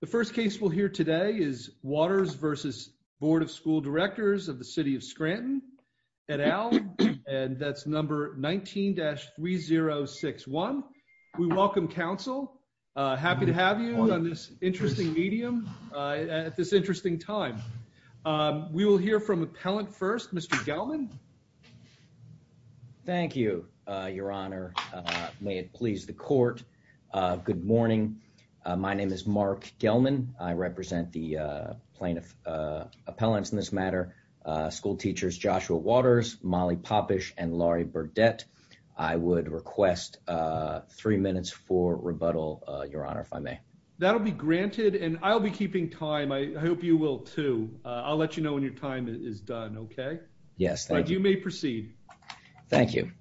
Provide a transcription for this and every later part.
The first case we'll hear today is Watters v. Board of School Directors of the City of Scranton et al. And that's number 19-3061. We welcome counsel. Happy to have you on this interesting medium at this interesting time. We will hear from appellant first, Mr. Gelman. Thank you, Your Honor. May it please the court. Good morning. My name is Mark Gelman. I represent the plaintiff appellants in this matter, schoolteachers Joshua Watters, Molly Popish, and Laurie Burdette. I would request three minutes for rebuttal, Your Honor, if I may. That'll be granted. And I'll be keeping time. I hope you will, too. I'll let you know when your is done, okay? Yes. You may proceed. Thank you.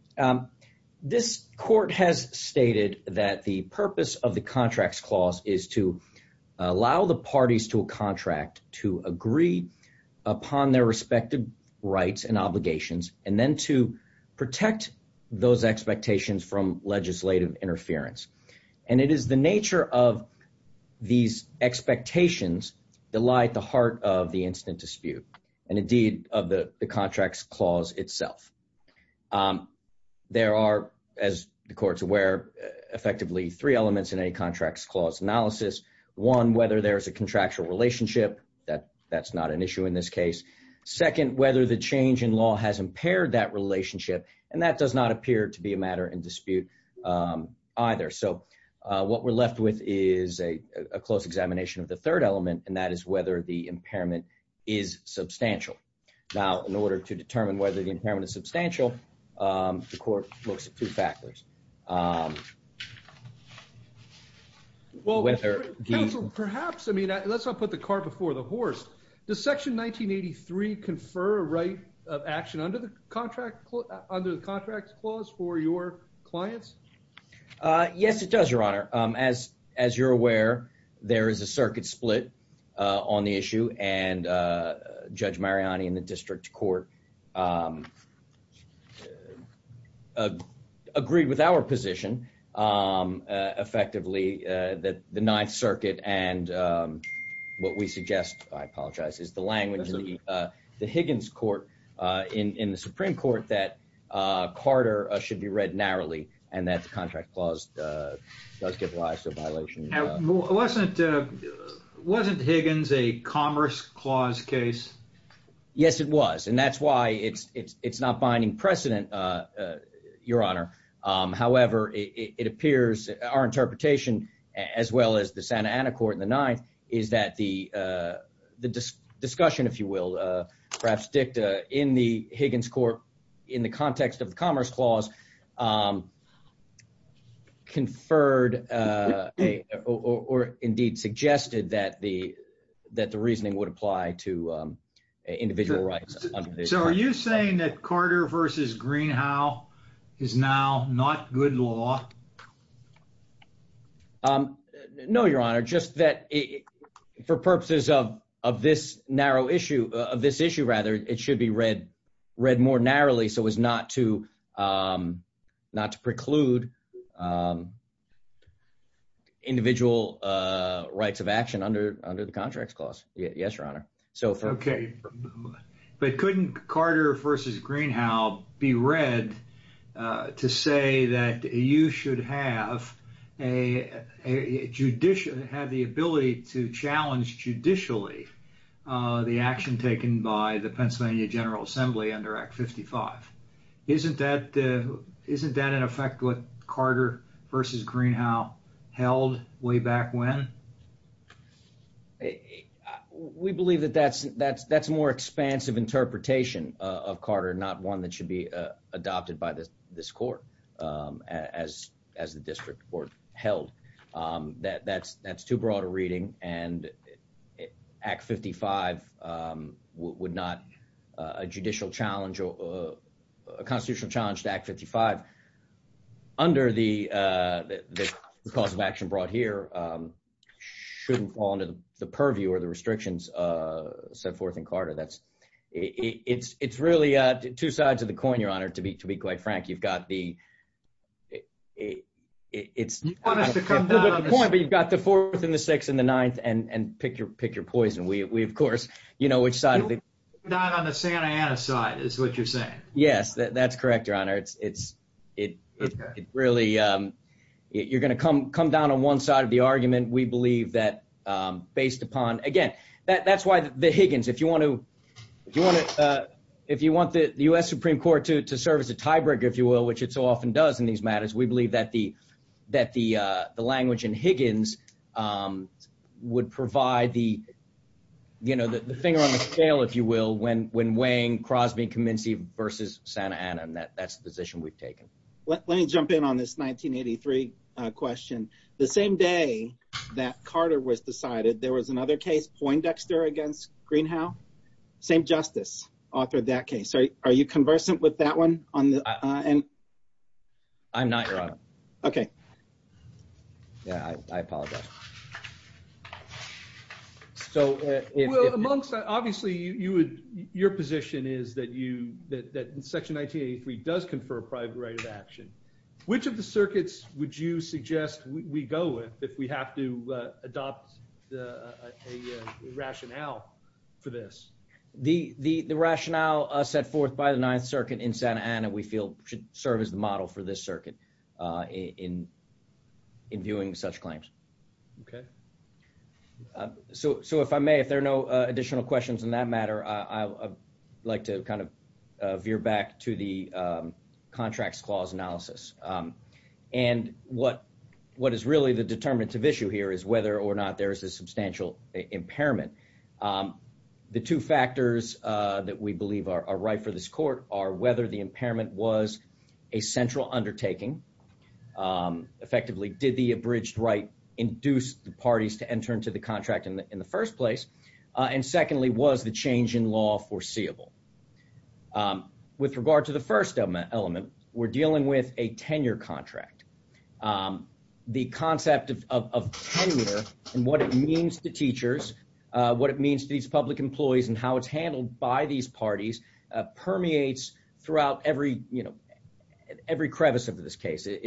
This court has stated that the purpose of the contracts clause is to allow the parties to a contract to agree upon their respective rights and obligations, and then to protect those expectations from legislative interference. And it is the nature of these expectations that lie at the heart of the incident dispute, and indeed of the contracts clause itself. There are, as the court's aware, effectively three elements in any contracts clause analysis. One, whether there is a contractual relationship. That's not an issue in this case. Second, whether the change in law has impaired that relationship. And that does not appear to be a matter in dispute either. So what we're left with is a close examination of the third element, and that is whether the impairment is substantial. Now, in order to determine whether the impairment is substantial, the court looks at two factors. Well, counsel, perhaps, I mean, let's not put the cart before the horse. Does section 1983 confer a right of action under the contract clause for your clients? Yes, it does, your honor. As you're aware, there is a circuit split on the issue, and Judge Mariani and the district court agreed with our position, effectively, that the Ninth Circuit and what we suggest, I apologize, is the language of the Higgins court in the Supreme Court that Carter should be read narrowly, and that the contract clause does give rise to a violation. Wasn't Higgins a commerce clause case? Yes, it was, and that's why it's not binding precedent, your honor. However, it appears our interpretation, as well as the Santa Ana court in the Ninth, is that the discussion, if you will, perhaps dicta in the Higgins court, in the context of the commerce clause, conferred or indeed suggested that the reasoning would apply to individual rights. So are you saying that Carter versus Greenhow is now not good law? No, your honor, just that for purposes of this issue, it should be read more narrowly, so as not to preclude individual rights of action under the contracts clause. Yes, your honor. Okay, but couldn't Carter versus Greenhow be read to say that you should have the ability to challenge judicially the action taken by the Pennsylvania General Assembly under Act 55? Isn't that in effect what Carter versus Greenhow held way back when? We believe that that's more expansive interpretation of Carter, not one that should be adopted by this court as the district court held. That's too broad a reading, and Act 55 would not, a judicial challenge or a constitutional challenge to Act 55 under the cause of action brought here, shouldn't fall into the purview or the restrictions set forth in Carter. It's really two sides of the coin, your honor, to be quite frank. You've got the fourth and the sixth and the ninth and pick your poison. We, of course, you know which side of the coin you're on. You're going to come down on the Santa Ana side, is what you're saying. Yes, that's correct, your honor. You're going to come down on one side. Again, that's why the Higgins, if you want the U.S. Supreme Court to serve as a tiebreaker, if you will, which it so often does in these matters, we believe that the language in Higgins would provide the finger on the scale, if you will, when weighing Crosby-Comminski versus Santa Ana, and that's the position we've taken. Let me jump in on this 1983 question. The same day that Carter was decided, there was another case, Poindexter against Greenhow. Same justice authored that case. Are you conversant with that one? I'm not, your honor. Okay. Yeah, I apologize. So, well, amongst, obviously, your position is that you, that Section 1983 does confer private right of action. Which of the circuits would you suggest we go with if we have to adopt a rationale for this? The rationale set forth by the Ninth Circuit in Santa Ana we feel should serve as the model for this circuit in viewing such claims. Okay. So, if I may, if there are no additional questions in that matter, I'd like to kind of gear back to the Contracts Clause Analysis. And what is really the determinative issue here is whether or not there is a substantial impairment. The two factors that we believe are right for this court are whether the impairment was a central undertaking. Effectively, did the abridged right induce the parties to enter into the contract in the first place? And secondly, was the change in law foreseeable? With regard to the first element, we're dealing with a tenure contract. The concept of tenure and what it means to teachers, what it means to these public employees, and how it's handled by these parties permeates throughout every, you know, every crevice of this case. It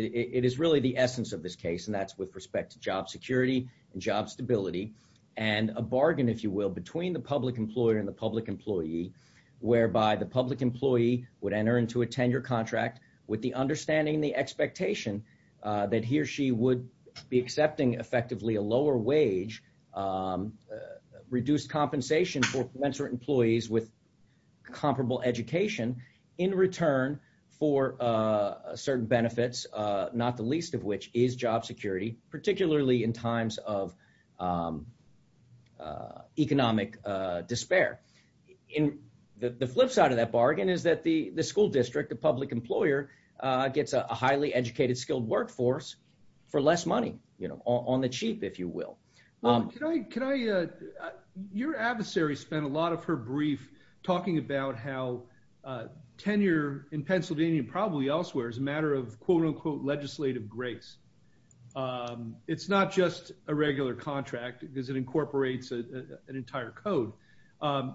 is really the essence of this case, and that's with respect to job security and job stability, and a bargain, if you will, between the public employer and the public employee, whereby the public employee would enter into a tenure contract with the understanding and the expectation that he or she would be accepting effectively a lower wage, reduced compensation for commensurate employees with comparable education in return for certain benefits, not the least of which is job security, particularly in times of economic despair. The flip side of that bargain is that the school district, the public employer, gets a highly educated, skilled workforce for less money, you know, on the cheap, if you will. Your adversary spent a lot of her brief talking about how tenure in Pennsylvania, probably elsewhere, is a matter of quote-unquote legislative grace. It's not just a regular contract because it incorporates an entire code.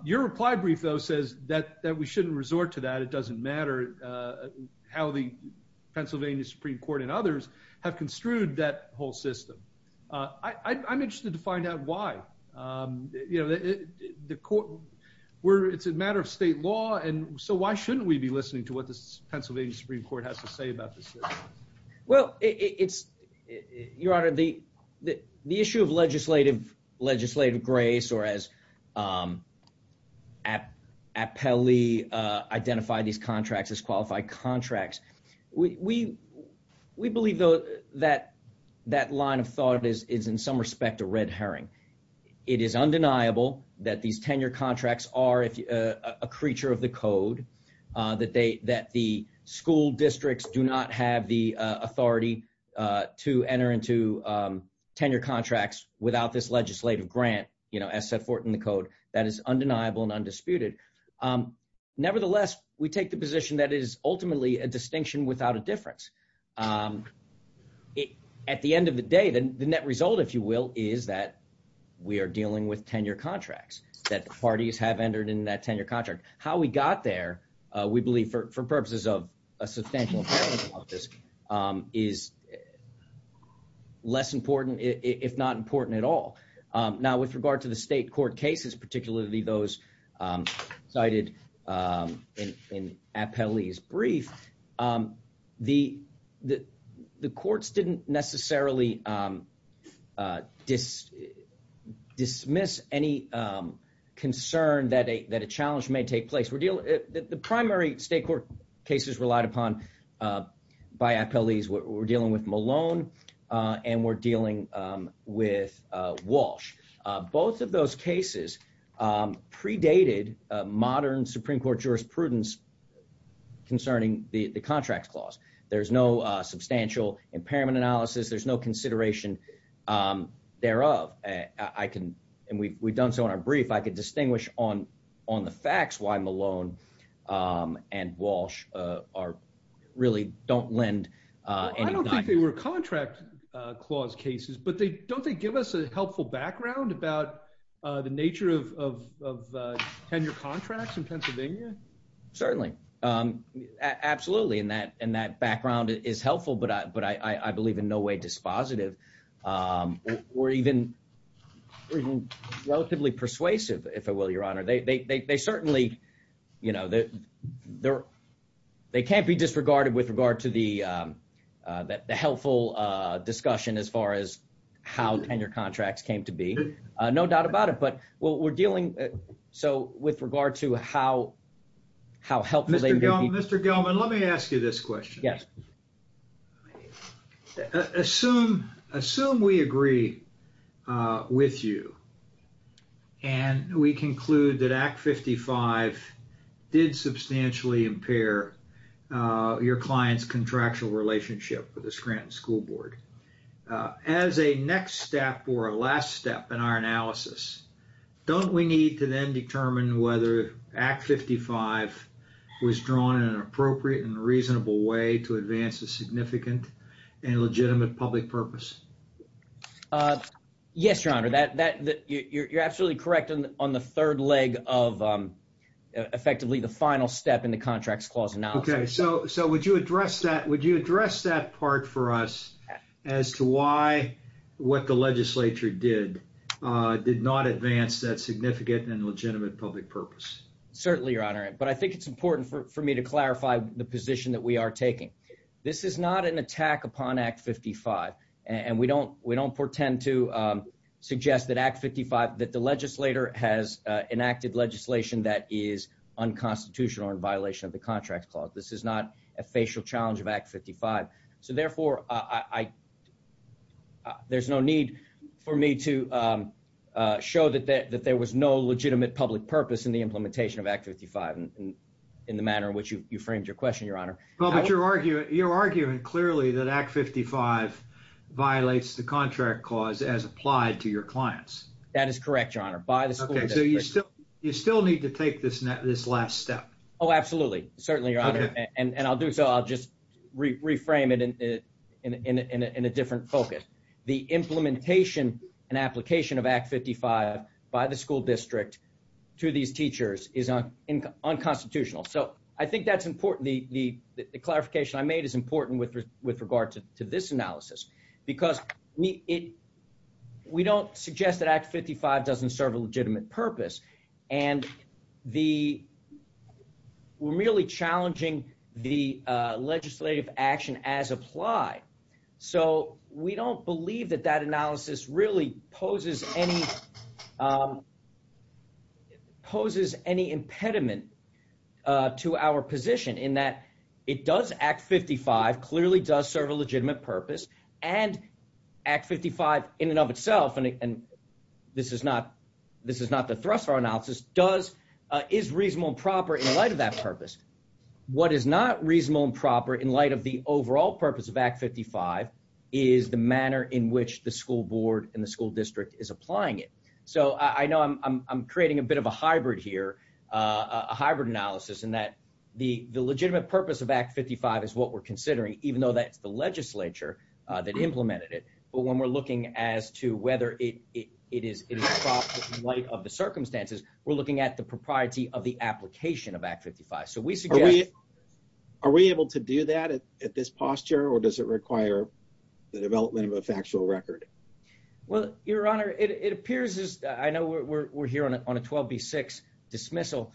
Your reply brief, though, says that we shouldn't resort to that. It doesn't matter how the Pennsylvania Supreme Court and others have construed that whole system. I'm interested to find out why. You know, the issue of legislative grace or as Appelli identified these contracts as qualified contracts, we believe, though, that that line of thought is in some respect a red herring. It is undeniable that these tenure contracts are a creature of the code, that the school districts do not have the authority to enter into tenure contracts without this legislative grant, you know, as set forth in the code. That is undeniable and undisputed. Nevertheless, we take the position that it is ultimately a distinction without a difference. At the end of the day, the net result, if you will, is that we are dealing with tenure contract. How we got there, we believe, for purposes of a substantial amount of this, is less important, if not important at all. Now, with regard to the state court cases, particularly those cited in Appelli's brief, the courts didn't necessarily dismiss any concern that a challenge may take place. The primary state court cases relied upon by Appelli's, we're dealing with Malone and we're dealing with Walsh. Both of those cases predated modern Supreme Court jurisprudence concerning the contracts clause. There's no substantial impairment analysis. There's no Malone and Walsh really don't lend. I don't think they were contract clause cases, but don't they give us a helpful background about the nature of tenure contracts in Pennsylvania? Certainly. Absolutely. And that background is helpful, but I believe in no way dispositive or even relatively persuasive, if I will, your honor. They certainly, you know, they can't be disregarded with regard to the helpful discussion as far as how tenure contracts came to be. No doubt about it, but we're dealing with regard to how helpful Mr. Gelman, let me ask you this question. Yes. Assume we agree with you and we conclude that Act 55 did substantially impair your client's contractual relationship with the Scranton School Board. As a next step or a last step in our analysis, don't we need to then determine whether Act 55 was drawn in an appropriate and reasonable way to advance a significant and legitimate public purpose? Yes, your honor. You're absolutely correct on the third leg of effectively the final step in the contracts clause analysis. Okay. So would you address that part for us as to why what the legislature did did not advance that significant and legitimate public purpose? Certainly, your honor. But I think it's important for me to clarify the position that we are taking. This is not an attack upon Act 55. And we don't portend to suggest that Act 55, that the legislator has enacted legislation that is unconstitutional in violation of the contract clause. This is not a facial challenge of Act 55. So therefore, there's no need for me to show that there was no legitimate public purpose in the implementation of Act 55 in the manner in which you framed your question, your honor. Well, but you're arguing clearly that Act 55 violates the contract clause as applied to your clients. That is correct, your honor. So you still need to take this last step. Oh, absolutely. Certainly, your honor. And I'll do so. I'll just reframe it in a different focus. The implementation and application of Act 55 by the school district to these teachers is unconstitutional. So I think that's important. The clarification I made is important with regard to this analysis, because we don't suggest that Act 55 doesn't serve a legitimate purpose. And we're merely challenging the legislative action as applied. So we don't believe that that analysis really poses any impediment to our position in that it does, Act 55 clearly does serve a legitimate purpose. And Act 55 in and of itself, and this is not the thrust of our analysis, is reasonable and proper in light of that purpose. What is not reasonable and proper in light of the overall purpose of Act 55 is the manner in which the school board and the school district is applying it. So I know I'm creating a bit of a hybrid here, a hybrid analysis in that the legitimate purpose of Act 55 is what we're considering, even though that's the legislature that implemented it. But when we're looking as to whether it is in light of the circumstances, we're looking at the propriety of the application of Act 55. So we suggest... Are we able to do that at this posture, or does it require the development of a factual record? Well, Your Honor, it appears as I know we're here on a 12B6 dismissal.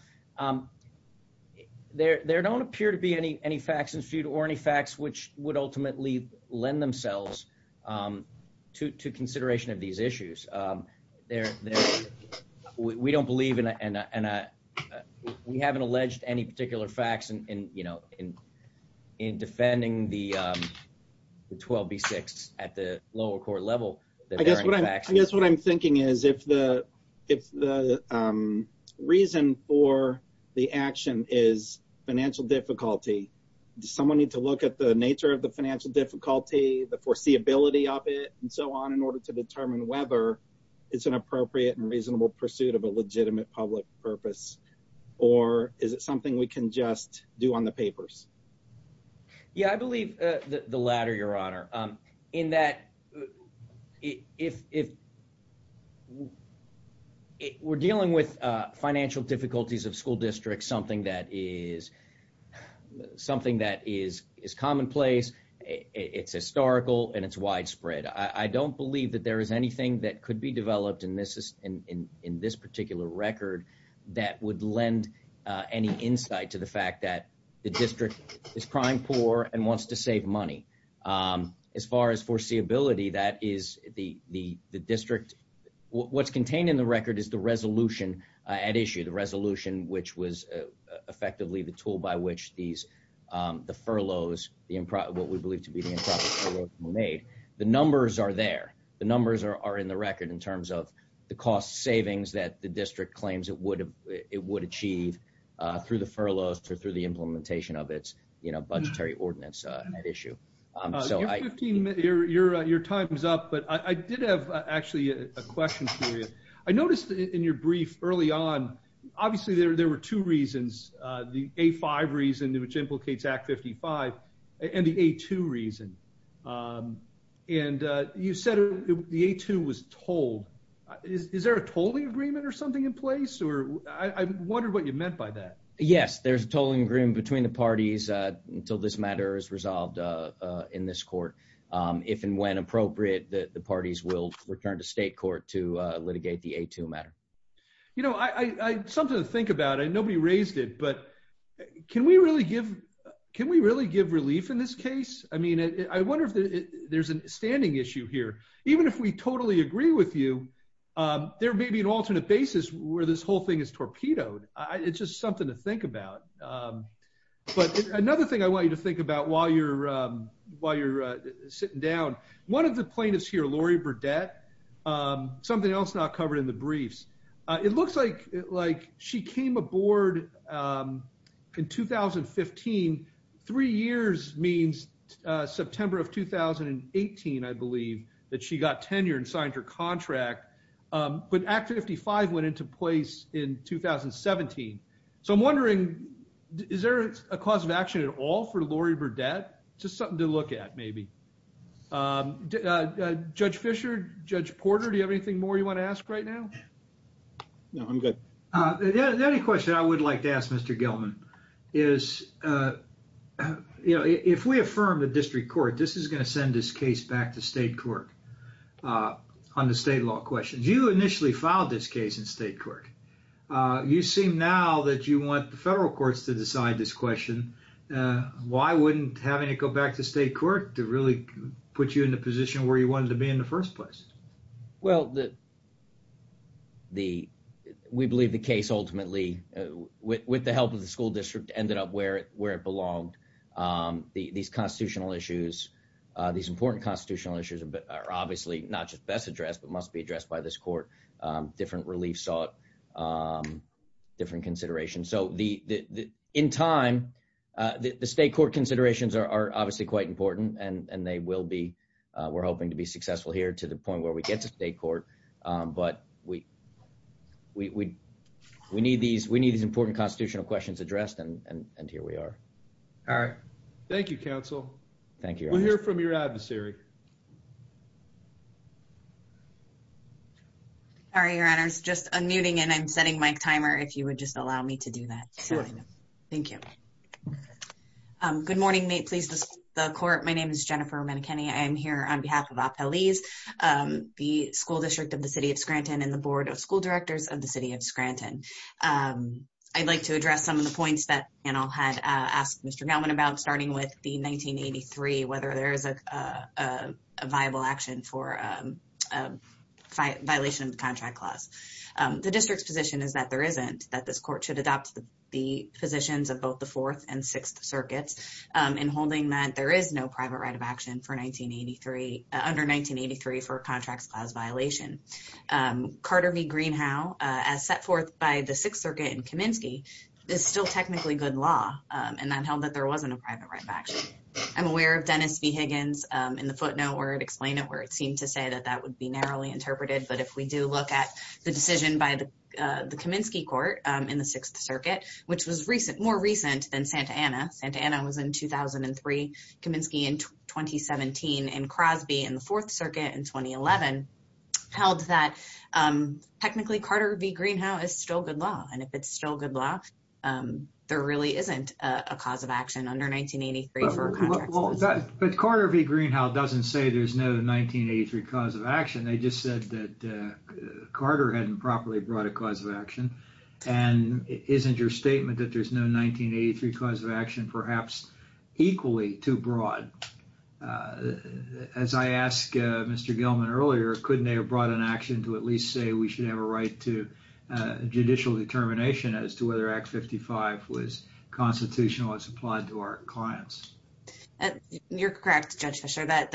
There don't appear to be any facts in feud or any facts which would ultimately lend themselves to consideration of these issues. We don't believe... We haven't alleged any particular facts in defending the 12B6 at the lower court level. I guess what I'm thinking is if the reason for the action is financial difficulty, does someone need to look at the nature of the financial difficulty, the foreseeability of it, and so on, in order to determine whether it's an appropriate and reasonable pursuit of a legitimate public purpose, or is it something we can just do on the papers? Yeah, I believe the latter, Your Honor, in that if we're dealing with financial difficulties of school districts, something that is commonplace, it's historical, and it's widespread. I don't believe that there is anything that could be developed in this particular record that would lend any insight to the fact that the district is prime poor and wants to save money. As far as foreseeability, that is the district... What's contained in the record is the resolution at issue, the resolution which was effectively the tool by which the furloughs, what we believe to be the improper furloughs were made. The numbers are there. The numbers are in the record in terms of the cost savings that the district claims it would achieve through the furloughs or through the implementation of its budgetary ordinance at issue. Your time is up, but I did have actually a question for you. I noticed in your brief early on, obviously there were two reasons, the A5 reason, which implicates Act 55, and the A2 reason. And you said the A2 was told. Is there a tolling agreement or something in place? I wondered what you meant by that. Yes, there's a tolling agreement between the parties until this matter is resolved in this court. If and when appropriate, the parties will return to state court to litigate the A2 matter. Something to think about, nobody raised it, but can we really give relief in this case? I wonder if there's a standing issue here. Even if we totally agree with you, there may be an alternate basis where this whole thing is torpedoed. It's just something to think about. But another thing I want you to think about while you're sitting down, one of the plaintiffs here, Lori Burdette, something else not covered in the briefs, it looks like she came aboard in 2015, three years means September of 2018, I believe, that she got tenure and signed her contract. But Act 55 went to place in 2017. So I'm wondering, is there a cause of action at all for Lori Burdette? Just something to look at maybe. Judge Fischer, Judge Porter, do you have anything more you want to ask right now? No, I'm good. The only question I would like to ask Mr. Gilman is, you know, if we affirm the district court, this is going to send this case back to state court on the state law questions. You initially filed this case in state court. You seem now that you want the federal courts to decide this question. Why wouldn't having it go back to state court to really put you in the position where you wanted to be in the first place? Well, we believe the case ultimately, with the help of the school district, ended up where it belonged. These constitutional issues, these important constitutional issues are obviously not just best addressed, but must addressed by this court. Different relief sought, different considerations. So in time, the state court considerations are obviously quite important, and they will be. We're hoping to be successful here to the point where we get to state court. But we need these important constitutional questions addressed, and here we are. All right. Thank you, counsel. We'll hear from your adversary. Sorry, your honors. Just a meeting, and I'm setting my timer if you would just allow me to do that. Thank you. Good morning. May it please the court. My name is Jennifer Manikin. I am here on behalf of a police, the school district of the city of Scranton and the board of school directors of the city of Scranton. I'd like to address some of the points that panel had asked Mr. Gellman about, starting with the 1983, whether there is a viable action for a violation of the contract clause. The district's position is that there isn't, that this court should adopt the positions of both the Fourth and Sixth Circuits in holding that there is no private right of action for 1983, under 1983, for a contracts clause violation. Carter v. Greenhow, as set forth by the Sixth Circuit in Kaminsky, is still technically good law, and that held that there wasn't a private right of action. I'm aware of Dennis v. Higgins in the footnote where it explained it, where it seemed to say that that would be narrowly interpreted. But if we do look at the decision by the Kaminsky court in the Sixth Circuit, which was more recent than Santa Anna, Santa Anna was in 2003, Kaminsky in 2017, and Crosby in the Fourth Circuit in 2011, held that technically Carter v. Greenhow is still good law. And if it's still good law, there really isn't a cause of action under 1983 for a contract clause. But Carter v. Greenhow doesn't say there's no 1983 cause of action. They just said that Carter hadn't properly brought a cause of action. And isn't your statement that there's no 1983 cause of action perhaps equally too broad? As I asked Mr. Gilman earlier, couldn't they have brought an action to at least say we should have a right to judicial determination as to whether Act 55 was constitutional as applied to our clients? You're correct, Judge Fischer, that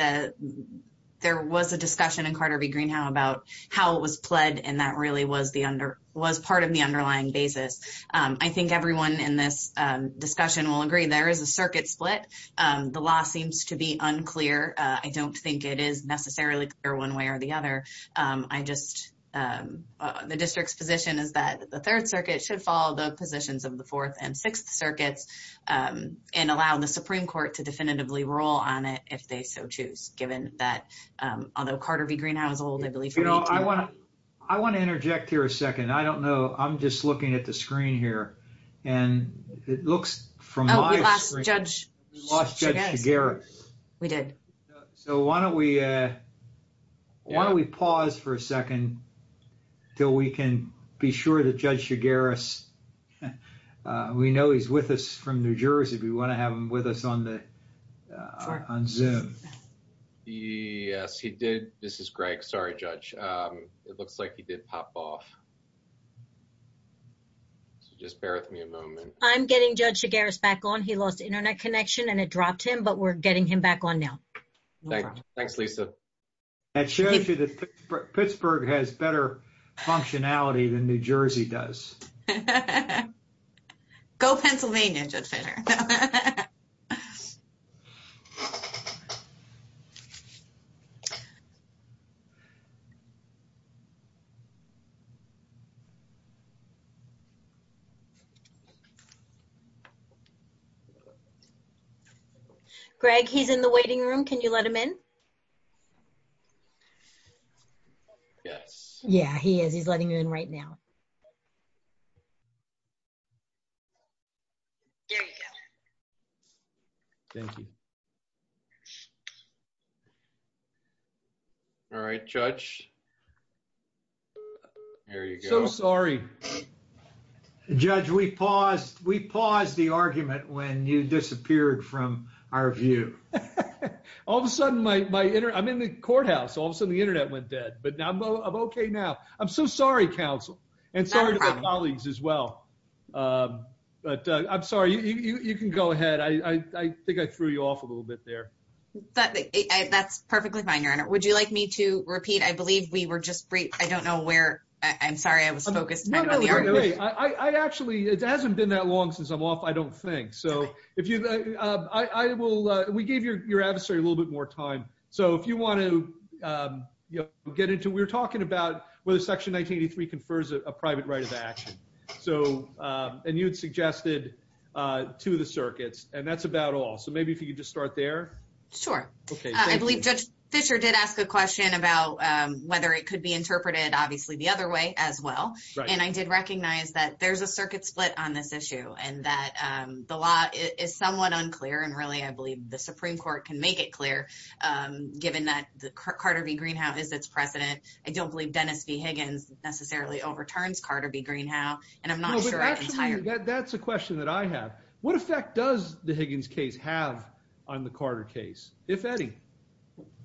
there was a discussion in Carter v. Greenhow about how it was pled, and that really was part of the underlying basis. I think everyone in this discussion will agree there is a circuit split. The law seems to be unclear. I don't think it is necessarily clear one way or the other. I just, the district's position is that the Third Circuit should follow the positions of the Fourth and Sixth Circuits and allow the Supreme Court to definitively rule on it if they so choose, given that, although Carter v. Greenhow is old, I believe- I want to interject here a second. I don't know. I'm just looking at the screen here, and it looks from my screen- Oh, we lost Judge Shigaris. We did. So why don't we pause for a second until we can be sure that Judge Shigaris, we know he's with us from New Jersey. We want to have him with us on Zoom. Yes, he did. This is Greg. Sorry, Judge. It looks like he did pop off. So just bear with me a moment. I'm getting Judge Shigaris back on. He lost internet connection and it dropped him, but we're getting him back on now. Thanks, Lisa. That shows you that Pittsburgh has better functionality than New Jersey does. Go Pennsylvania, Judge Fischer. Greg, he's in the waiting room. Can you let him in? Yes. Yeah, he is. He's letting you in right now. There you go. Thank you. All right, Judge. There you go. So sorry. Judge, we paused the argument when you disappeared from our view. All of a sudden, my internet- I'm in the courthouse. All of a sudden, the internet went dead. But I'm okay now. I'm so sorry, counsel, and sorry to my colleagues as well. But I'm sorry. You can go ahead. I think I threw you off a little bit there. That's perfectly fine, Your Honor. Would you like me to repeat? I believe we were just briefed. I don't know where. I'm sorry. I was focused. No, no, no. I actually- it hasn't been that long since I'm off, I don't think. So if you- we gave your adversary a little bit more time. So if you want to get into- we were talking about whether Section 1983 confers a private right of action. And you had suggested two of the circuits, and that's about all. So maybe if you could just start there. Sure. I believe Judge Fisher did ask a question about whether it could be interpreted, obviously, the other way as well. And I did recognize that there's a circuit split on this issue and that the law is somewhat unclear. And really, I believe the Supreme Court can make it given that Carter v. Greenhow is its president. I don't believe Dennis v. Higgins necessarily overturns Carter v. Greenhow. And I'm not sure- No, but that's a question that I have. What effect does the Higgins case have on the Carter case, if any?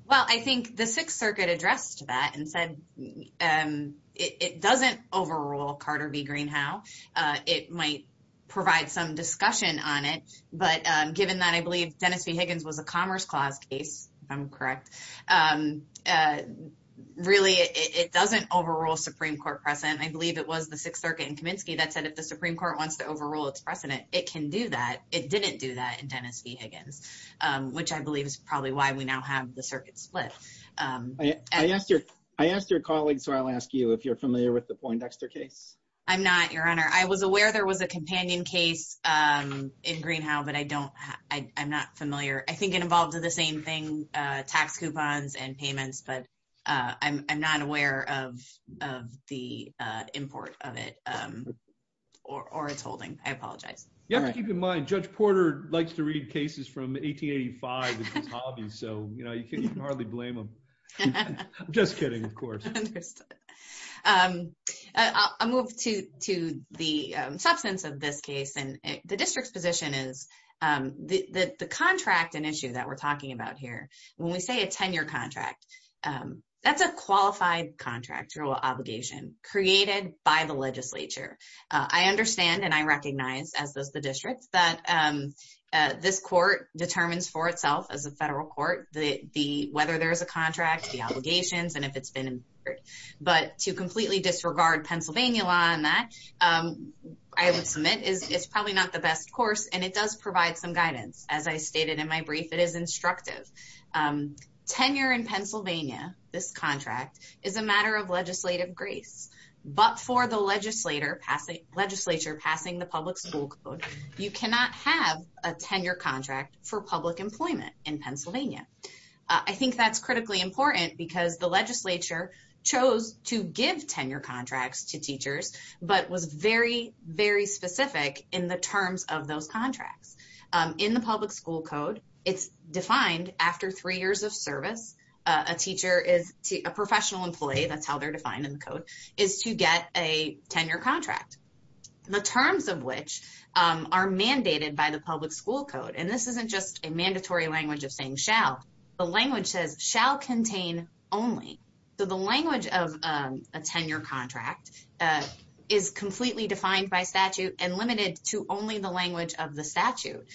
Well, I think the Sixth Circuit addressed that and said it doesn't overrule Carter v. Greenhow. It might provide some discussion on it. But given that, I believe Dennis v. Higgins was a correct- Really, it doesn't overrule Supreme Court precedent. I believe it was the Sixth Circuit in Kaminsky that said if the Supreme Court wants to overrule its precedent, it can do that. It didn't do that in Dennis v. Higgins, which I believe is probably why we now have the circuit split. I asked your colleague, so I'll ask you if you're familiar with the Poindexter case. I'm not, Your Honor. I was aware there was a companion case in Greenhow, but I'm not familiar. I think it involves the same thing, tax coupons and payments, but I'm not aware of the import of it or its holding. I apologize. You have to keep in mind, Judge Porter likes to read cases from 1885 as his hobby, so you can hardly blame him. I'm just kidding, of course. Understood. I'll move to the substance of this case. The district's position is the contract and issue that we're talking about here, when we say a tenure contract, that's a qualified contract or obligation created by the legislature. I understand and I recognize, as does the district, that this court determines for itself as a federal court whether there's a but to completely disregard Pennsylvania law on that, I would submit it's probably not the best course, and it does provide some guidance. As I stated in my brief, it is instructive. Tenure in Pennsylvania, this contract, is a matter of legislative grace, but for the legislature passing the public school code, you cannot have a tenure contract for public employment in Pennsylvania. I think that's critically important because the legislature chose to give tenure contracts to teachers, but was very, very specific in the terms of those contracts. In the public school code, it's defined after three years of service, a teacher is a professional employee, that's how they're defined in the code, is to get a tenure contract, the terms of which are mandated by the public school code. This isn't just a mandatory language of saying shall, the language says shall contain only. The language of a tenure contract is completely defined by statute and limited to only the language of the statute.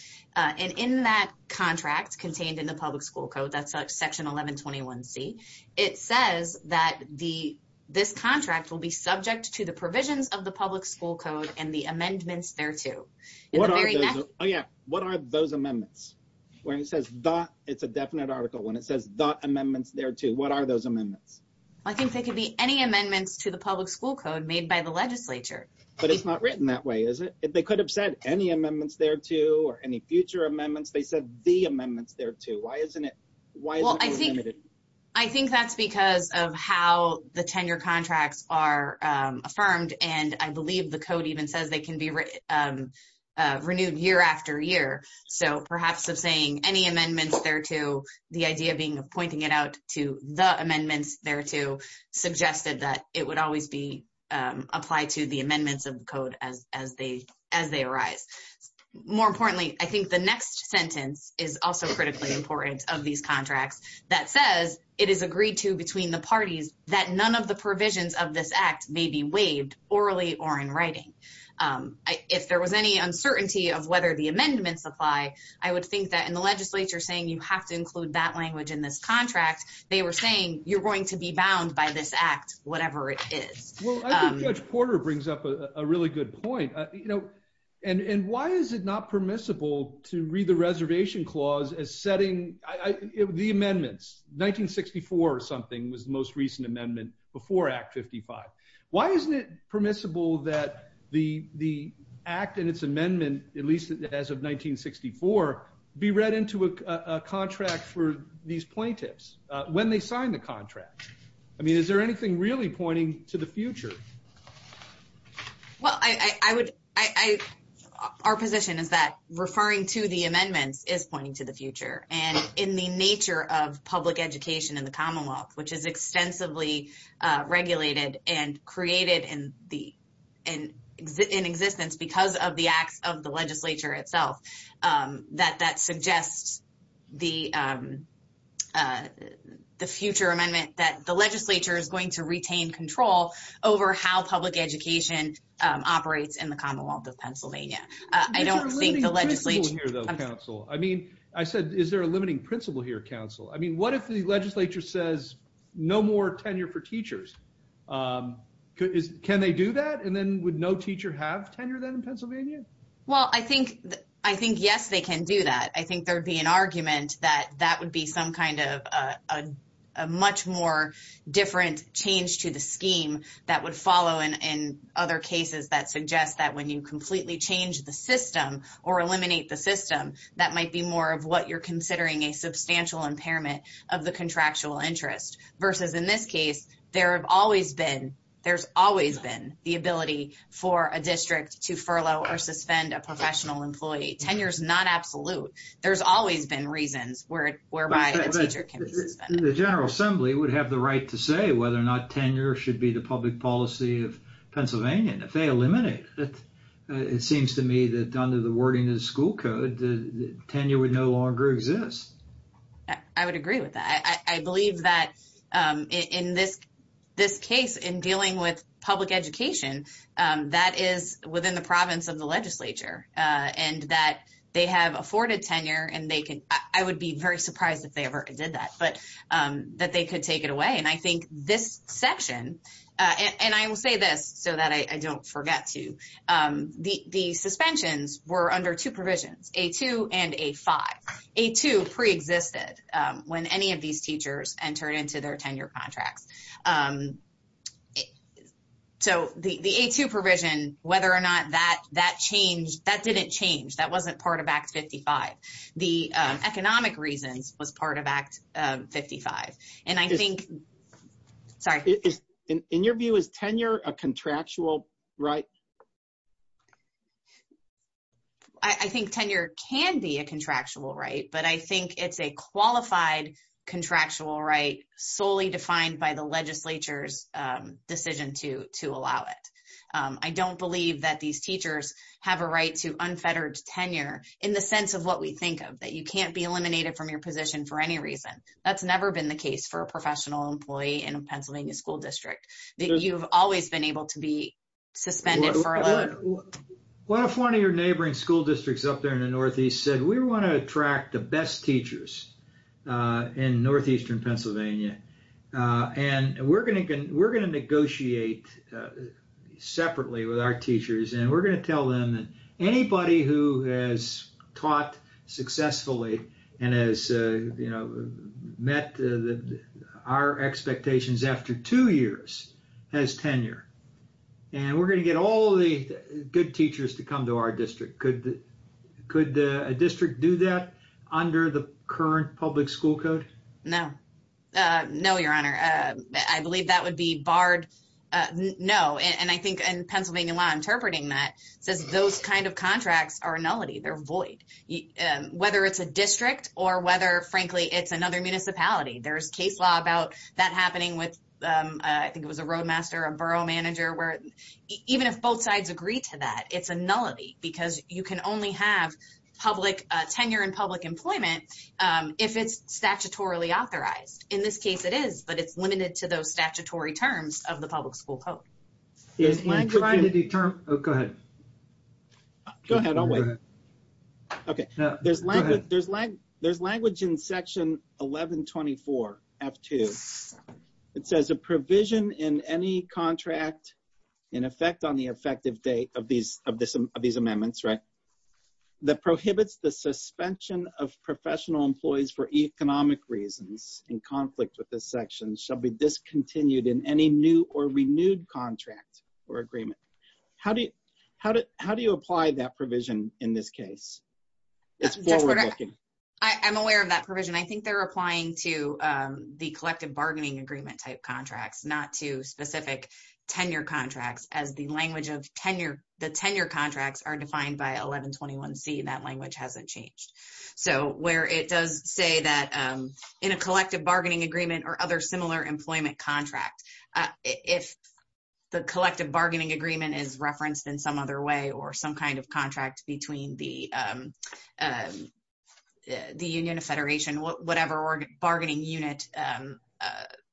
In that contract contained in the public school code, that's section 1121C, it says that this contract will subject to the provisions of the public school code and the amendments thereto. What are those amendments? It's a definite article when it says the amendments thereto, what are those amendments? I think they could be any amendments to the public school code made by the legislature. But it's not written that way, is it? They could have said any amendments thereto, or any future amendments, they said the amendments thereto, why isn't it limited? I think that's because of how the tenure contracts are affirmed, and I believe the code even says they can be renewed year after year. So perhaps of saying any amendments thereto, the idea being of pointing it out to the amendments thereto, suggested that it would always be applied to the amendments of the code as they arise. More importantly, I think the next sentence is also critically important of these contracts, that says it is agreed to between the parties that none of the provisions of this act may be waived orally or in writing. If there was any uncertainty of whether the amendments apply, I would think that in the legislature saying you have to include that language in this contract, they were saying you're going to be bound by this act, whatever it is. I think Judge Porter brings up a really good point. And why is it not permissible to read the reservation clause as setting the amendments? 1964 or something was the most recent amendment before Act 55. Why isn't it permissible that the act and its amendment, at least as of 1964, be read into a contract for these plaintiffs when they sign the contract? I mean, is there anything really pointing to the future? Well, our position is that referring to the amendments is pointing to the future. And in the nature of public education in the Commonwealth, which is extensively regulated and created in existence because of the acts of the legislature itself, that that suggests the future amendment that the legislature is going to retain control over how public education operates in the Commonwealth of Pennsylvania. I don't think the legislature... Is there a limiting principle here, though, counsel? I mean, I said, is there a limiting principle here, counsel? I mean, what if the legislature says no more tenure for teachers? Can they do that? And then would no teacher have tenure then in Pennsylvania? Well, I think yes, they can do that. I think there'd be an argument that that would be some kind of a much more different change to the scheme that would follow in other cases that suggest that when you completely change the system or eliminate the system, that might be more of what you're considering a substantial impairment of the contractual interest. Versus in this case, there's always been the ability for a district to furlough or suspend a professional employee. Tenure's not absolute. There's always been reasons whereby a teacher can be suspended. The General Assembly would have the right to say whether or not tenure should be the public policy of Pennsylvania. And if they eliminate it, it seems to me that under the wording of the school code, tenure would no longer exist. I would agree with that. I believe that in this case, in dealing with public education, that is within the province of the legislature, and that they have afforded tenure, and I would be very surprised if they ever did that, but that they could take it away. And I think this section, and I will say this so that I don't forget to, the suspensions were under two provisions, A2 and A5. A2 preexisted when any of these teachers entered into their tenure contracts. So, the A2 provision, whether or not that changed, that didn't change. That wasn't part of Act 55. The economic reasons was part of Act 55. And I think, sorry. In your view, is tenure a contractual right? I think tenure can be a contractual right, but I think it's a qualified contractual right, solely defined by the legislature's decision to allow it. I don't believe that these teachers have a right to unfettered tenure in the sense of what we think of, that you can't be eliminated from your position for any reason. That's never been the case for a professional employee in a school district, that you've always been able to be suspended for a load. What if one of your neighboring school districts up there in the Northeast said, we want to attract the best teachers in Northeastern Pennsylvania, and we're going to negotiate separately with our teachers, and we're going to tell them that anybody who has taught successfully and has met our expectations after two years has tenure. And we're going to get all the good teachers to come to our district. Could a district do that under the current public school code? No. No, Your Honor. I believe that would be barred. No. And I think in Pennsylvania law, says those kind of contracts are nullity. They're void. Whether it's a district or whether, frankly, it's another municipality. There's case law about that happening with, I think it was a roadmaster, a borough manager, where even if both sides agree to that, it's a nullity because you can only have tenure in public employment if it's statutorily authorized. In this case, it is, but it's limited to those statutory terms of the public school code. Go ahead. Go ahead. There's language in section 1124 F2. It says a provision in any contract in effect on the effective date of these amendments that prohibits the suspension of professional employees for economic reasons in conflict with this section shall be discontinued in any new or renewed contract or agreement. How do you apply that provision in this case? I'm aware of that provision. I think they're applying to the collective bargaining agreement type contracts, not to specific tenure contracts as the language of the tenure contracts are defined by 1121 C. That language hasn't changed. So, where it does say that in a collective bargaining agreement or other similar employment contract, if the collective bargaining agreement is referenced in some other way or some kind of contract between the union or federation, whatever bargaining unit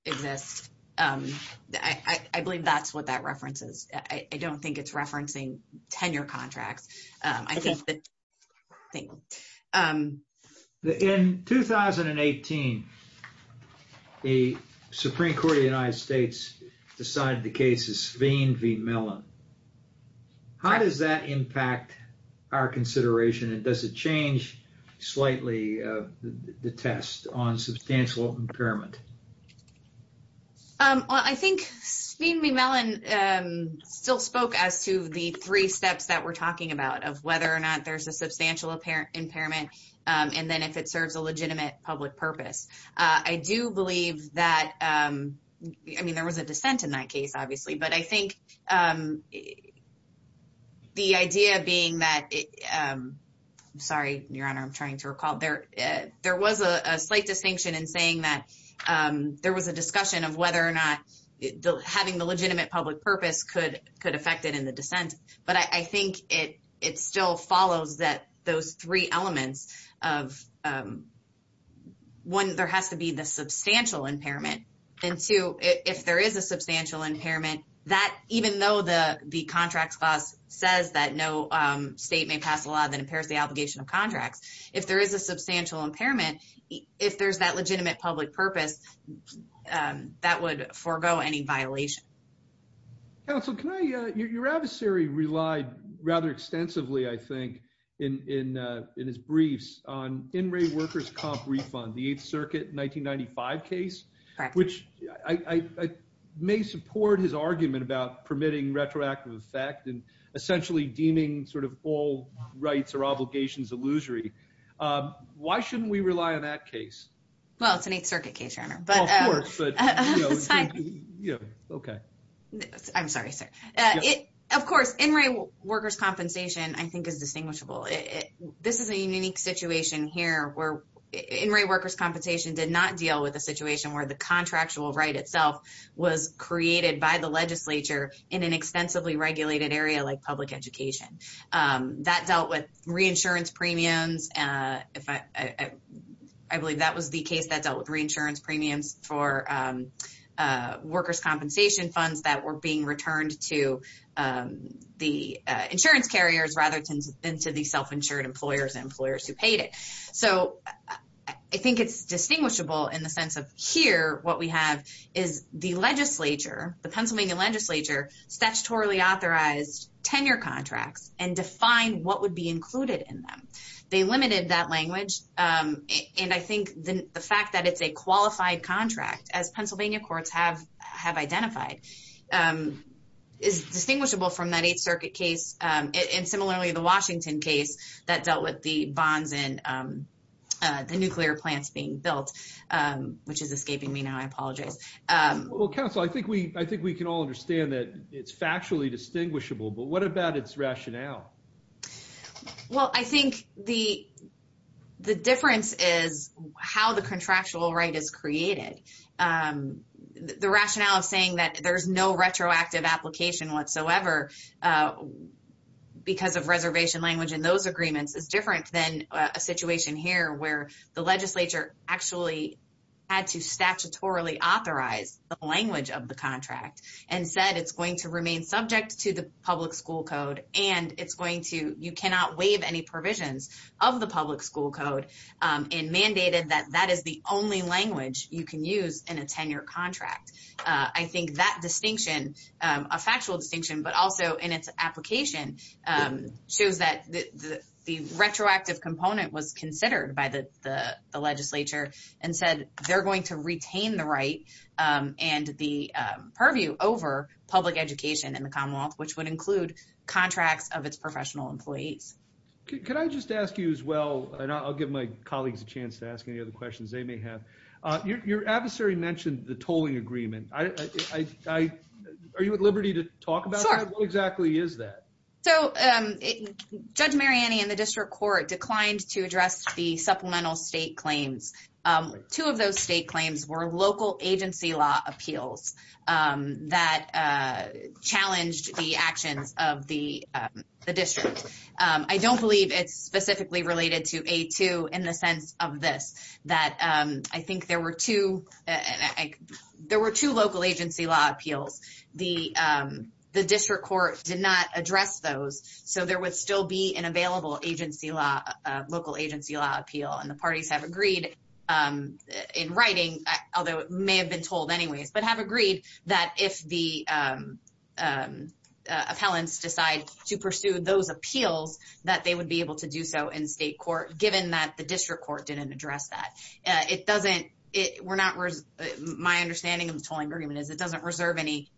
exists, I believe that's what that reference is. I don't think it's referencing tenure contracts. In 2018, the Supreme Court of the United States decided the case is Sveen v. Mellon. How does that impact our consideration and does it change slightly the test on substantial impairment? Well, I think Sveen v. Mellon still spoke as to the three steps that we're talking about of whether or not there's a substantial impairment and then if it serves a legitimate public purpose. I do believe that, I mean, there was a dissent in that case, obviously, but I think the idea being that, sorry, Your Honor, I'm trying to recall, there was a slight distinction in that there was a discussion of whether or not having the legitimate public purpose could affect it in the dissent, but I think it still follows that those three elements of, one, there has to be the substantial impairment, and two, if there is a substantial impairment, even though the contract clause says that no state may pass a law that impairs the obligation of contracts, if there is a substantial impairment, if there's that legitimate public purpose, that would forego any violation. Counsel, can I, your adversary relied rather extensively, I think, in his briefs on in-rate workers' comp refund, the 8th Circuit 1995 case, which I may support his argument about permitting retroactive effect and essentially deeming sort of all rights or obligations illusory. Why shouldn't we rely on that case? Well, it's an 8th Circuit case, Your Honor. Of course, but, you know, okay. I'm sorry, sir. Of course, in-rate workers' compensation, I think, is distinguishable. This is a unique situation here where in-rate workers' compensation did not deal with a situation where the contractual right itself was created by the reinsurance premiums. I believe that was the case that dealt with reinsurance premiums for workers' compensation funds that were being returned to the insurance carriers rather than to the self-insured employers and employers who paid it. So I think it's distinguishable in the sense of here what we have is the legislature, the Pennsylvania legislature, statutorily authorized tenure contracts and defined what would be included in them. They limited that language, and I think the fact that it's a qualified contract, as Pennsylvania courts have identified, is distinguishable from that 8th Circuit case and similarly the Washington case that dealt with the bonds and the nuclear plants being built, which is escaping me now. I apologize. Well, counsel, I think we can all understand that it's factually distinguishable, but what about its rationale? Well, I think the difference is how the contractual right is created. The rationale of saying that there's no retroactive application whatsoever because of reservation language in those agreements is different than a situation here where the legislature actually had to statutorily authorize the language of the contract and said it's going to remain subject to the public school code and it's going to, you cannot waive any provisions of the public school code and mandated that that is the only language you can use in a tenure contract. I think that distinction, a factual distinction, but also in its application shows that the retroactive component was considered by the legislature and said they're going to retain the right and the purview over public education in the Commonwealth, which would include contracts of its professional employees. Could I just ask you as well, and I'll give my colleagues a chance to ask any other questions they may have, your adversary mentioned the So, Judge Mariani and the district court declined to address the supplemental state claims. Two of those state claims were local agency law appeals that challenged the actions of the district. I don't believe it's specifically related to A2 in the sense of this, that I think were two, there were two local agency law appeals. The district court did not address those, so there would still be an available agency law, local agency law appeal and the parties have agreed in writing, although it may have been told anyways, but have agreed that if the appellants decide to pursue those appeals, that they would be able to do so in state court, given that the district court didn't address that. It doesn't, we're not, my understanding of the tolling agreement is it doesn't reserve any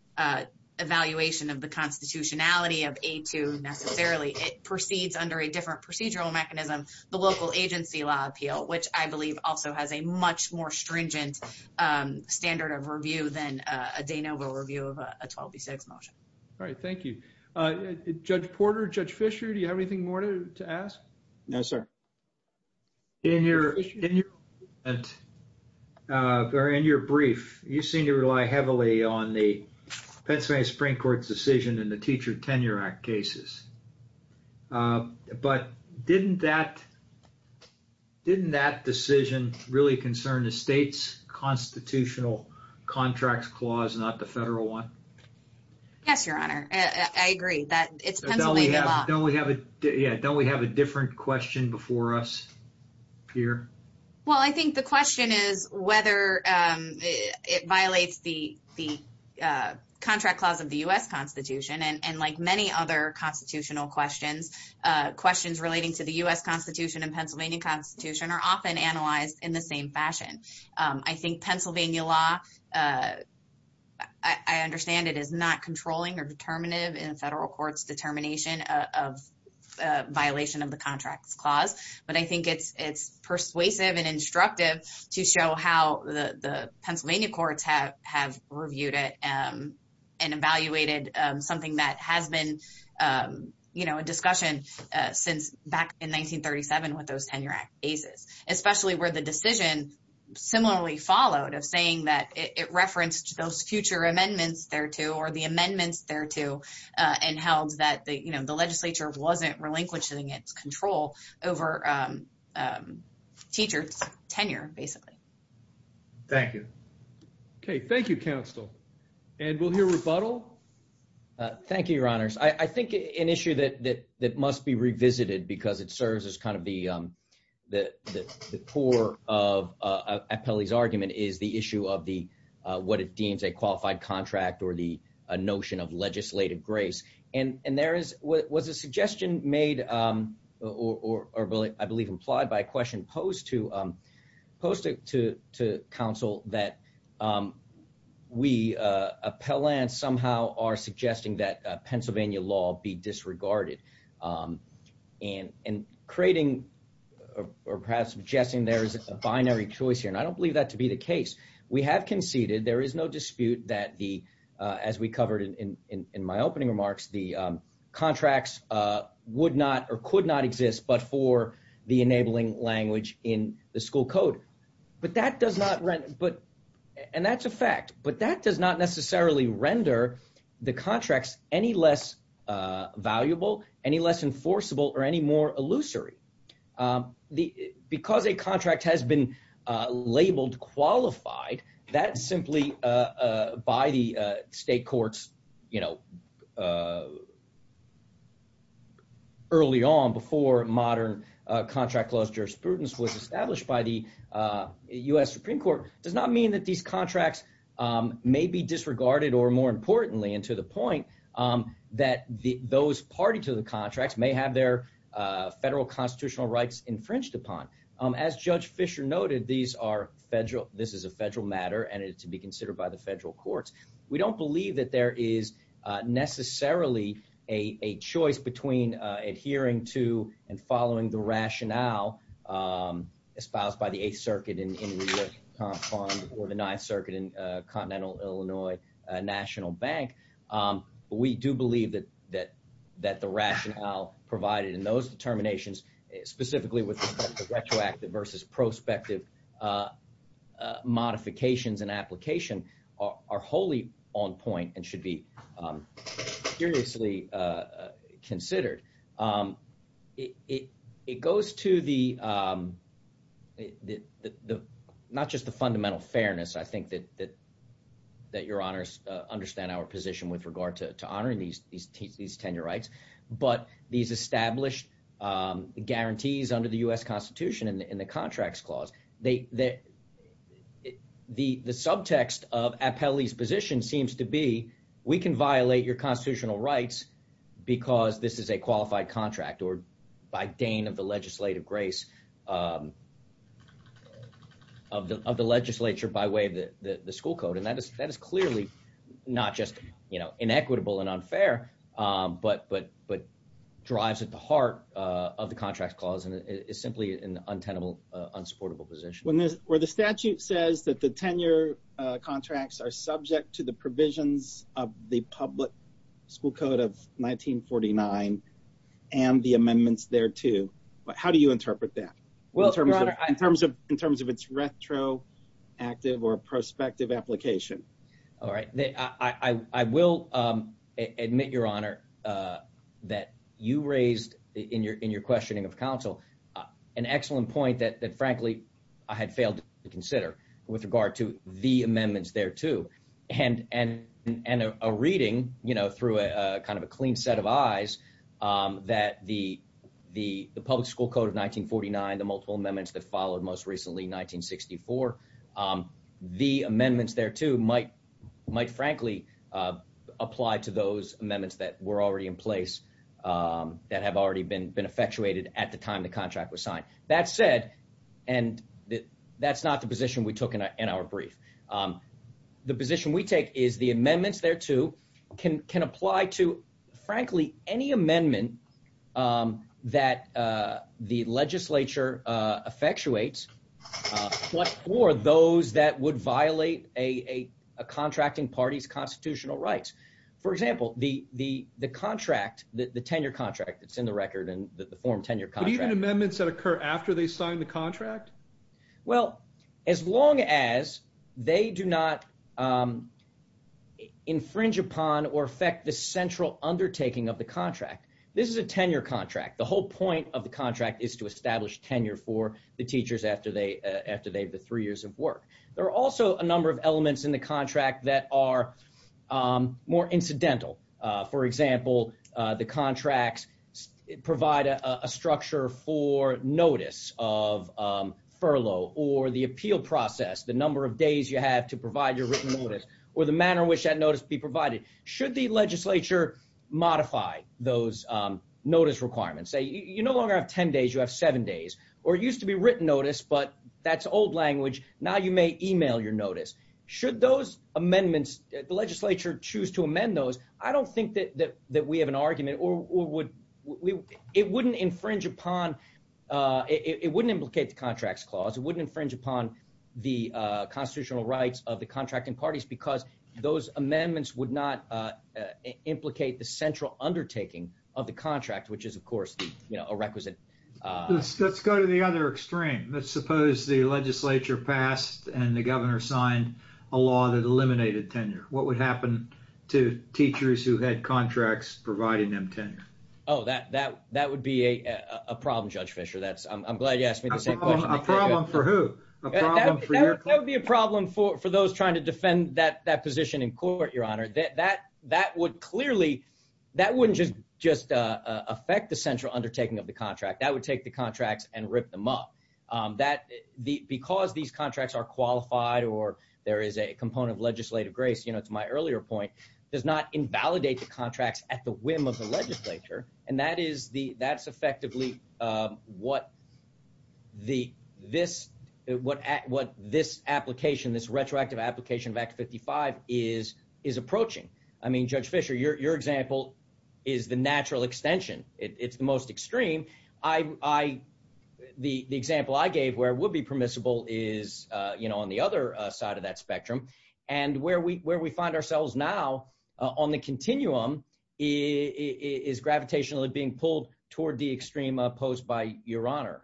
evaluation of the constitutionality of A2 necessarily. It proceeds under a different procedural mechanism, the local agency law appeal, which I believe also has a much more stringent standard of review than a de novo review of a 12B6 motion. All right, thank you. Judge Porter, Judge Fisher, do you have anything more to ask? No, sir. In your, in your, or in your brief, you seem to rely heavily on the Pennsylvania Supreme Court's decision in the Teacher Tenure Act cases, but didn't that, didn't that decision really concern the state's constitutional contracts clause, not the federal one? Yes, your honor, I agree that it's Pennsylvania law. Don't we have a, yeah, don't we have a different question before us here? Well, I think the question is whether it violates the contract clause of the U.S. Constitution, and like many other constitutional questions, questions relating to the U.S. Constitution and Pennsylvania Constitution are often analyzed in the same fashion. I think Pennsylvania law, I understand it is not controlling or determinative in the federal court's determination of violation of the contracts clause, but I think it's persuasive and instructive to show how the Pennsylvania courts have reviewed it and evaluated something that has been, you know, a discussion since back in 1937 with those tenure act cases, especially where the it referenced those future amendments thereto or the amendments thereto and held that the, you know, the legislature wasn't relinquishing its control over teachers' tenure, basically. Thank you. Okay, thank you, counsel, and we'll hear rebuttal. Thank you, your honors. I think an issue that must be revisited because it serves as kind of the core of what it deems a qualified contract or the notion of legislative grace, and there was a suggestion made or I believe implied by a question posed to counsel that we, appellants, somehow are suggesting that Pennsylvania law be disregarded and creating or perhaps suggesting there is a conceded, there is no dispute that the, as we covered in my opening remarks, the contracts would not or could not exist but for the enabling language in the school code, but that does not, and that's a fact, but that does not necessarily render the contracts any less valuable, any less enforceable, or any more illusory. Because a contract has been labeled qualified, that simply, by the state courts, you know, early on before modern contract clause jurisprudence was established by the U.S. Supreme Court, does not mean that these contracts may be disregarded or, more importantly, and to the point, that those party to the contracts may have their federal constitutional rights infringed upon. As Judge Fisher noted, these are federal, and to be considered by the federal courts. We don't believe that there is necessarily a choice between adhering to and following the rationale espoused by the 8th Circuit in or the 9th Circuit in Continental Illinois National Bank. We do believe that the rationale provided in those determinations, specifically with respect to retroactive versus prospective modifications and application, are wholly on point and should be seriously considered. It goes to the, not just the fundamental fairness, I think, that your honors understand our position with regard to honoring these tenure rights, but these established guarantees under the U.S. Constitution in the Contracts Clause. The subtext of Appelli's position seems to be, we can violate your constitutional rights because this is a qualified contract, or by deign of the legislative grace of the legislature by way of the school code, and that is clearly not just, you know, inequitable and unfair, but drives at the heart of the Contracts Clause and is simply an untenable, unsupportable position. When the statute says that the tenure contracts are subject to the provisions of the public school code of 1949 and the amendments thereto, how do you interpret that in terms of its retroactive or prospective application? All right. I will admit, your honor, that you raised in your questioning of counsel an excellent point that, frankly, I had failed to consider with regard to the amendments thereto, and a reading, you know, through a kind of a clean set of eyes that the public school code of 1949, the multiple amendments that followed most recently, 1964, the amendments thereto might frankly apply to those amendments that were already in place, that have already been effectuated at the time the contract was signed. That said, and that's not the position we took in our brief, the position we take is the amendments thereto can apply to, frankly, any amendment that the legislature effectuates what, or those that would violate a contracting party's constitutional rights. For example, the contract, the tenure contract that's in the record and the form tenure contract. But even amendments that occur after they sign the contract? Well, as long as they do not infringe upon or affect the central undertaking of the contract. This is a tenure contract. The whole point of the contract is to establish tenure for the teachers after they have the three years of work. There are also a number of elements in the contract that are more incidental. For example, the contracts provide a structure for notice of furlough or the appeal process, the number of days you have to provide your written notice, or the manner in which that notice be provided. Should the legislature modify those or used to be written notice, but that's old language. Now you may email your notice. Should those amendments, the legislature choose to amend those. I don't think that we have an argument or would, it wouldn't infringe upon, it wouldn't implicate the contracts clause. It wouldn't infringe upon the constitutional rights of the contracting parties because those amendments would not implicate the central undertaking of the contract, which is of course, a requisite. Let's go to the other extreme. Let's suppose the legislature passed and the governor signed a law that eliminated tenure. What would happen to teachers who had contracts providing them tenure? Oh, that would be a problem, Judge Fischer. I'm glad you asked me the same question. A problem for who? That would be a problem for those trying to defend that would clearly, that wouldn't just affect the central undertaking of the contract. That would take the contracts and rip them up. Because these contracts are qualified or there is a component of legislative grace, to my earlier point, does not invalidate the contracts at the whim of the legislature. And that's effectively what this application, this retroactive application of Act 55 is approaching. I mean, Judge Fischer, your example is the natural extension. It's the most extreme. The example I gave where it would be permissible is on the other side of that spectrum. And where we find ourselves now on the continuum is gravitationally being pulled toward the extreme posed by your honor.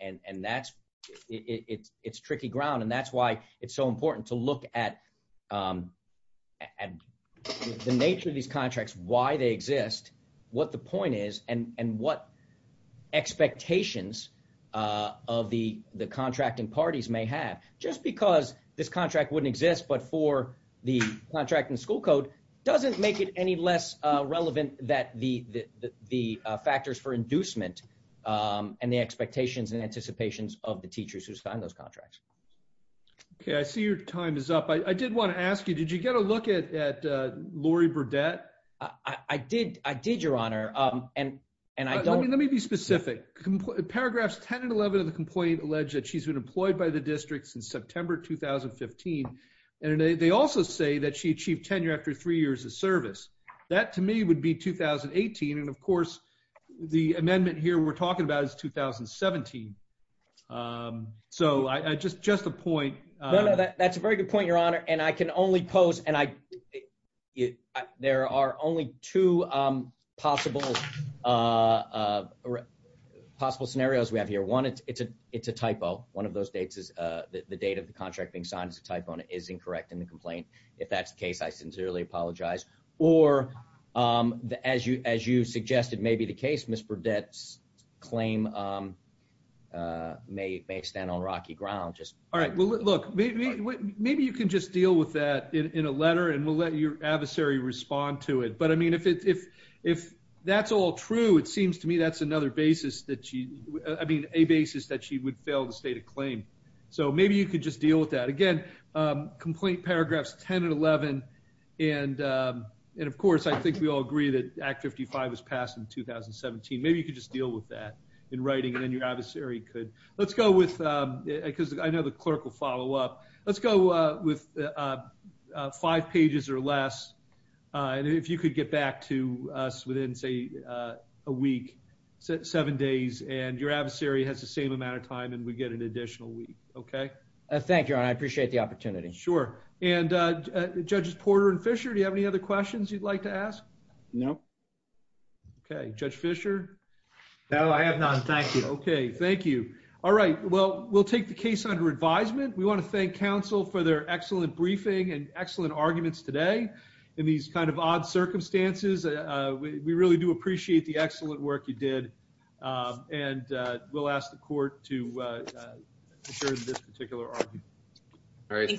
And that's, it's tricky ground. And that's why it's so important to look at the nature of these contracts, why they exist, what the point is, and what expectations of the contracting parties may have. Just because this contract wouldn't exist but for the contracting school code doesn't make it any less relevant that the factors for inducement and the expectations and anticipations of the teachers who sign those contracts. Okay, I see your time is up. I did want to ask you, did you get a look at at Lori Burdette? I did, I did, your honor. And, and I don't, let me be specific. Paragraphs 10 and 11 of the complaint alleged that she's been employed by the district since September 2015. And they also say that she achieved tenure after three years of service. That to me would be 2018. And of course, the amendment here we're talking about is 2017. Um, so I just, just a point. No, no, that's a very good point, your honor. And I can only post and I, there are only two, um, possible, uh, uh, possible scenarios we have here. One, it's, it's a, it's a typo. One of those dates is, uh, the date of the contract being signed as a typo and it is incorrect in the complaint. If that's the case, I sincerely apologize. Or, um, the, as you suggested, maybe the case Ms. Burdette's claim, um, uh, may, may stand on rocky ground. Just, all right. Well, look, maybe, maybe you can just deal with that in a letter and we'll let your adversary respond to it. But I mean, if it's, if, if that's all true, it seems to me, that's another basis that she, I mean, a basis that she would fail to state a claim. So maybe you could just deal with that again, um, complaint paragraphs 10 and 11. And, um, and of course, I think we all agree that Act 55 was passed in 2017. Maybe you could just deal with that in writing and then your adversary could, let's go with, um, because I know the clerk will follow up. Let's go, uh, with, uh, uh, five pages or less. Uh, and if you could get back to us within, say, uh, a week, seven days, and your adversary has the same amount of time and we get an additional week. Okay. Uh, thank you, Ron. I appreciate the opportunity. Sure. And, uh, Judges Porter and Fisher, do you have any other questions you'd like to ask? No. Okay. Judge Fisher? No, I have none. Thank you. Okay. Thank you. All right. Well, we'll take the case under advisement. We want to thank counsel for their excellent briefing and excellent arguments today in these kind of odd circumstances. Uh, we really do appreciate the excellent work you did. Um, and, uh, we'll ask the court to, uh, uh, this particular argument. All right. Thank you.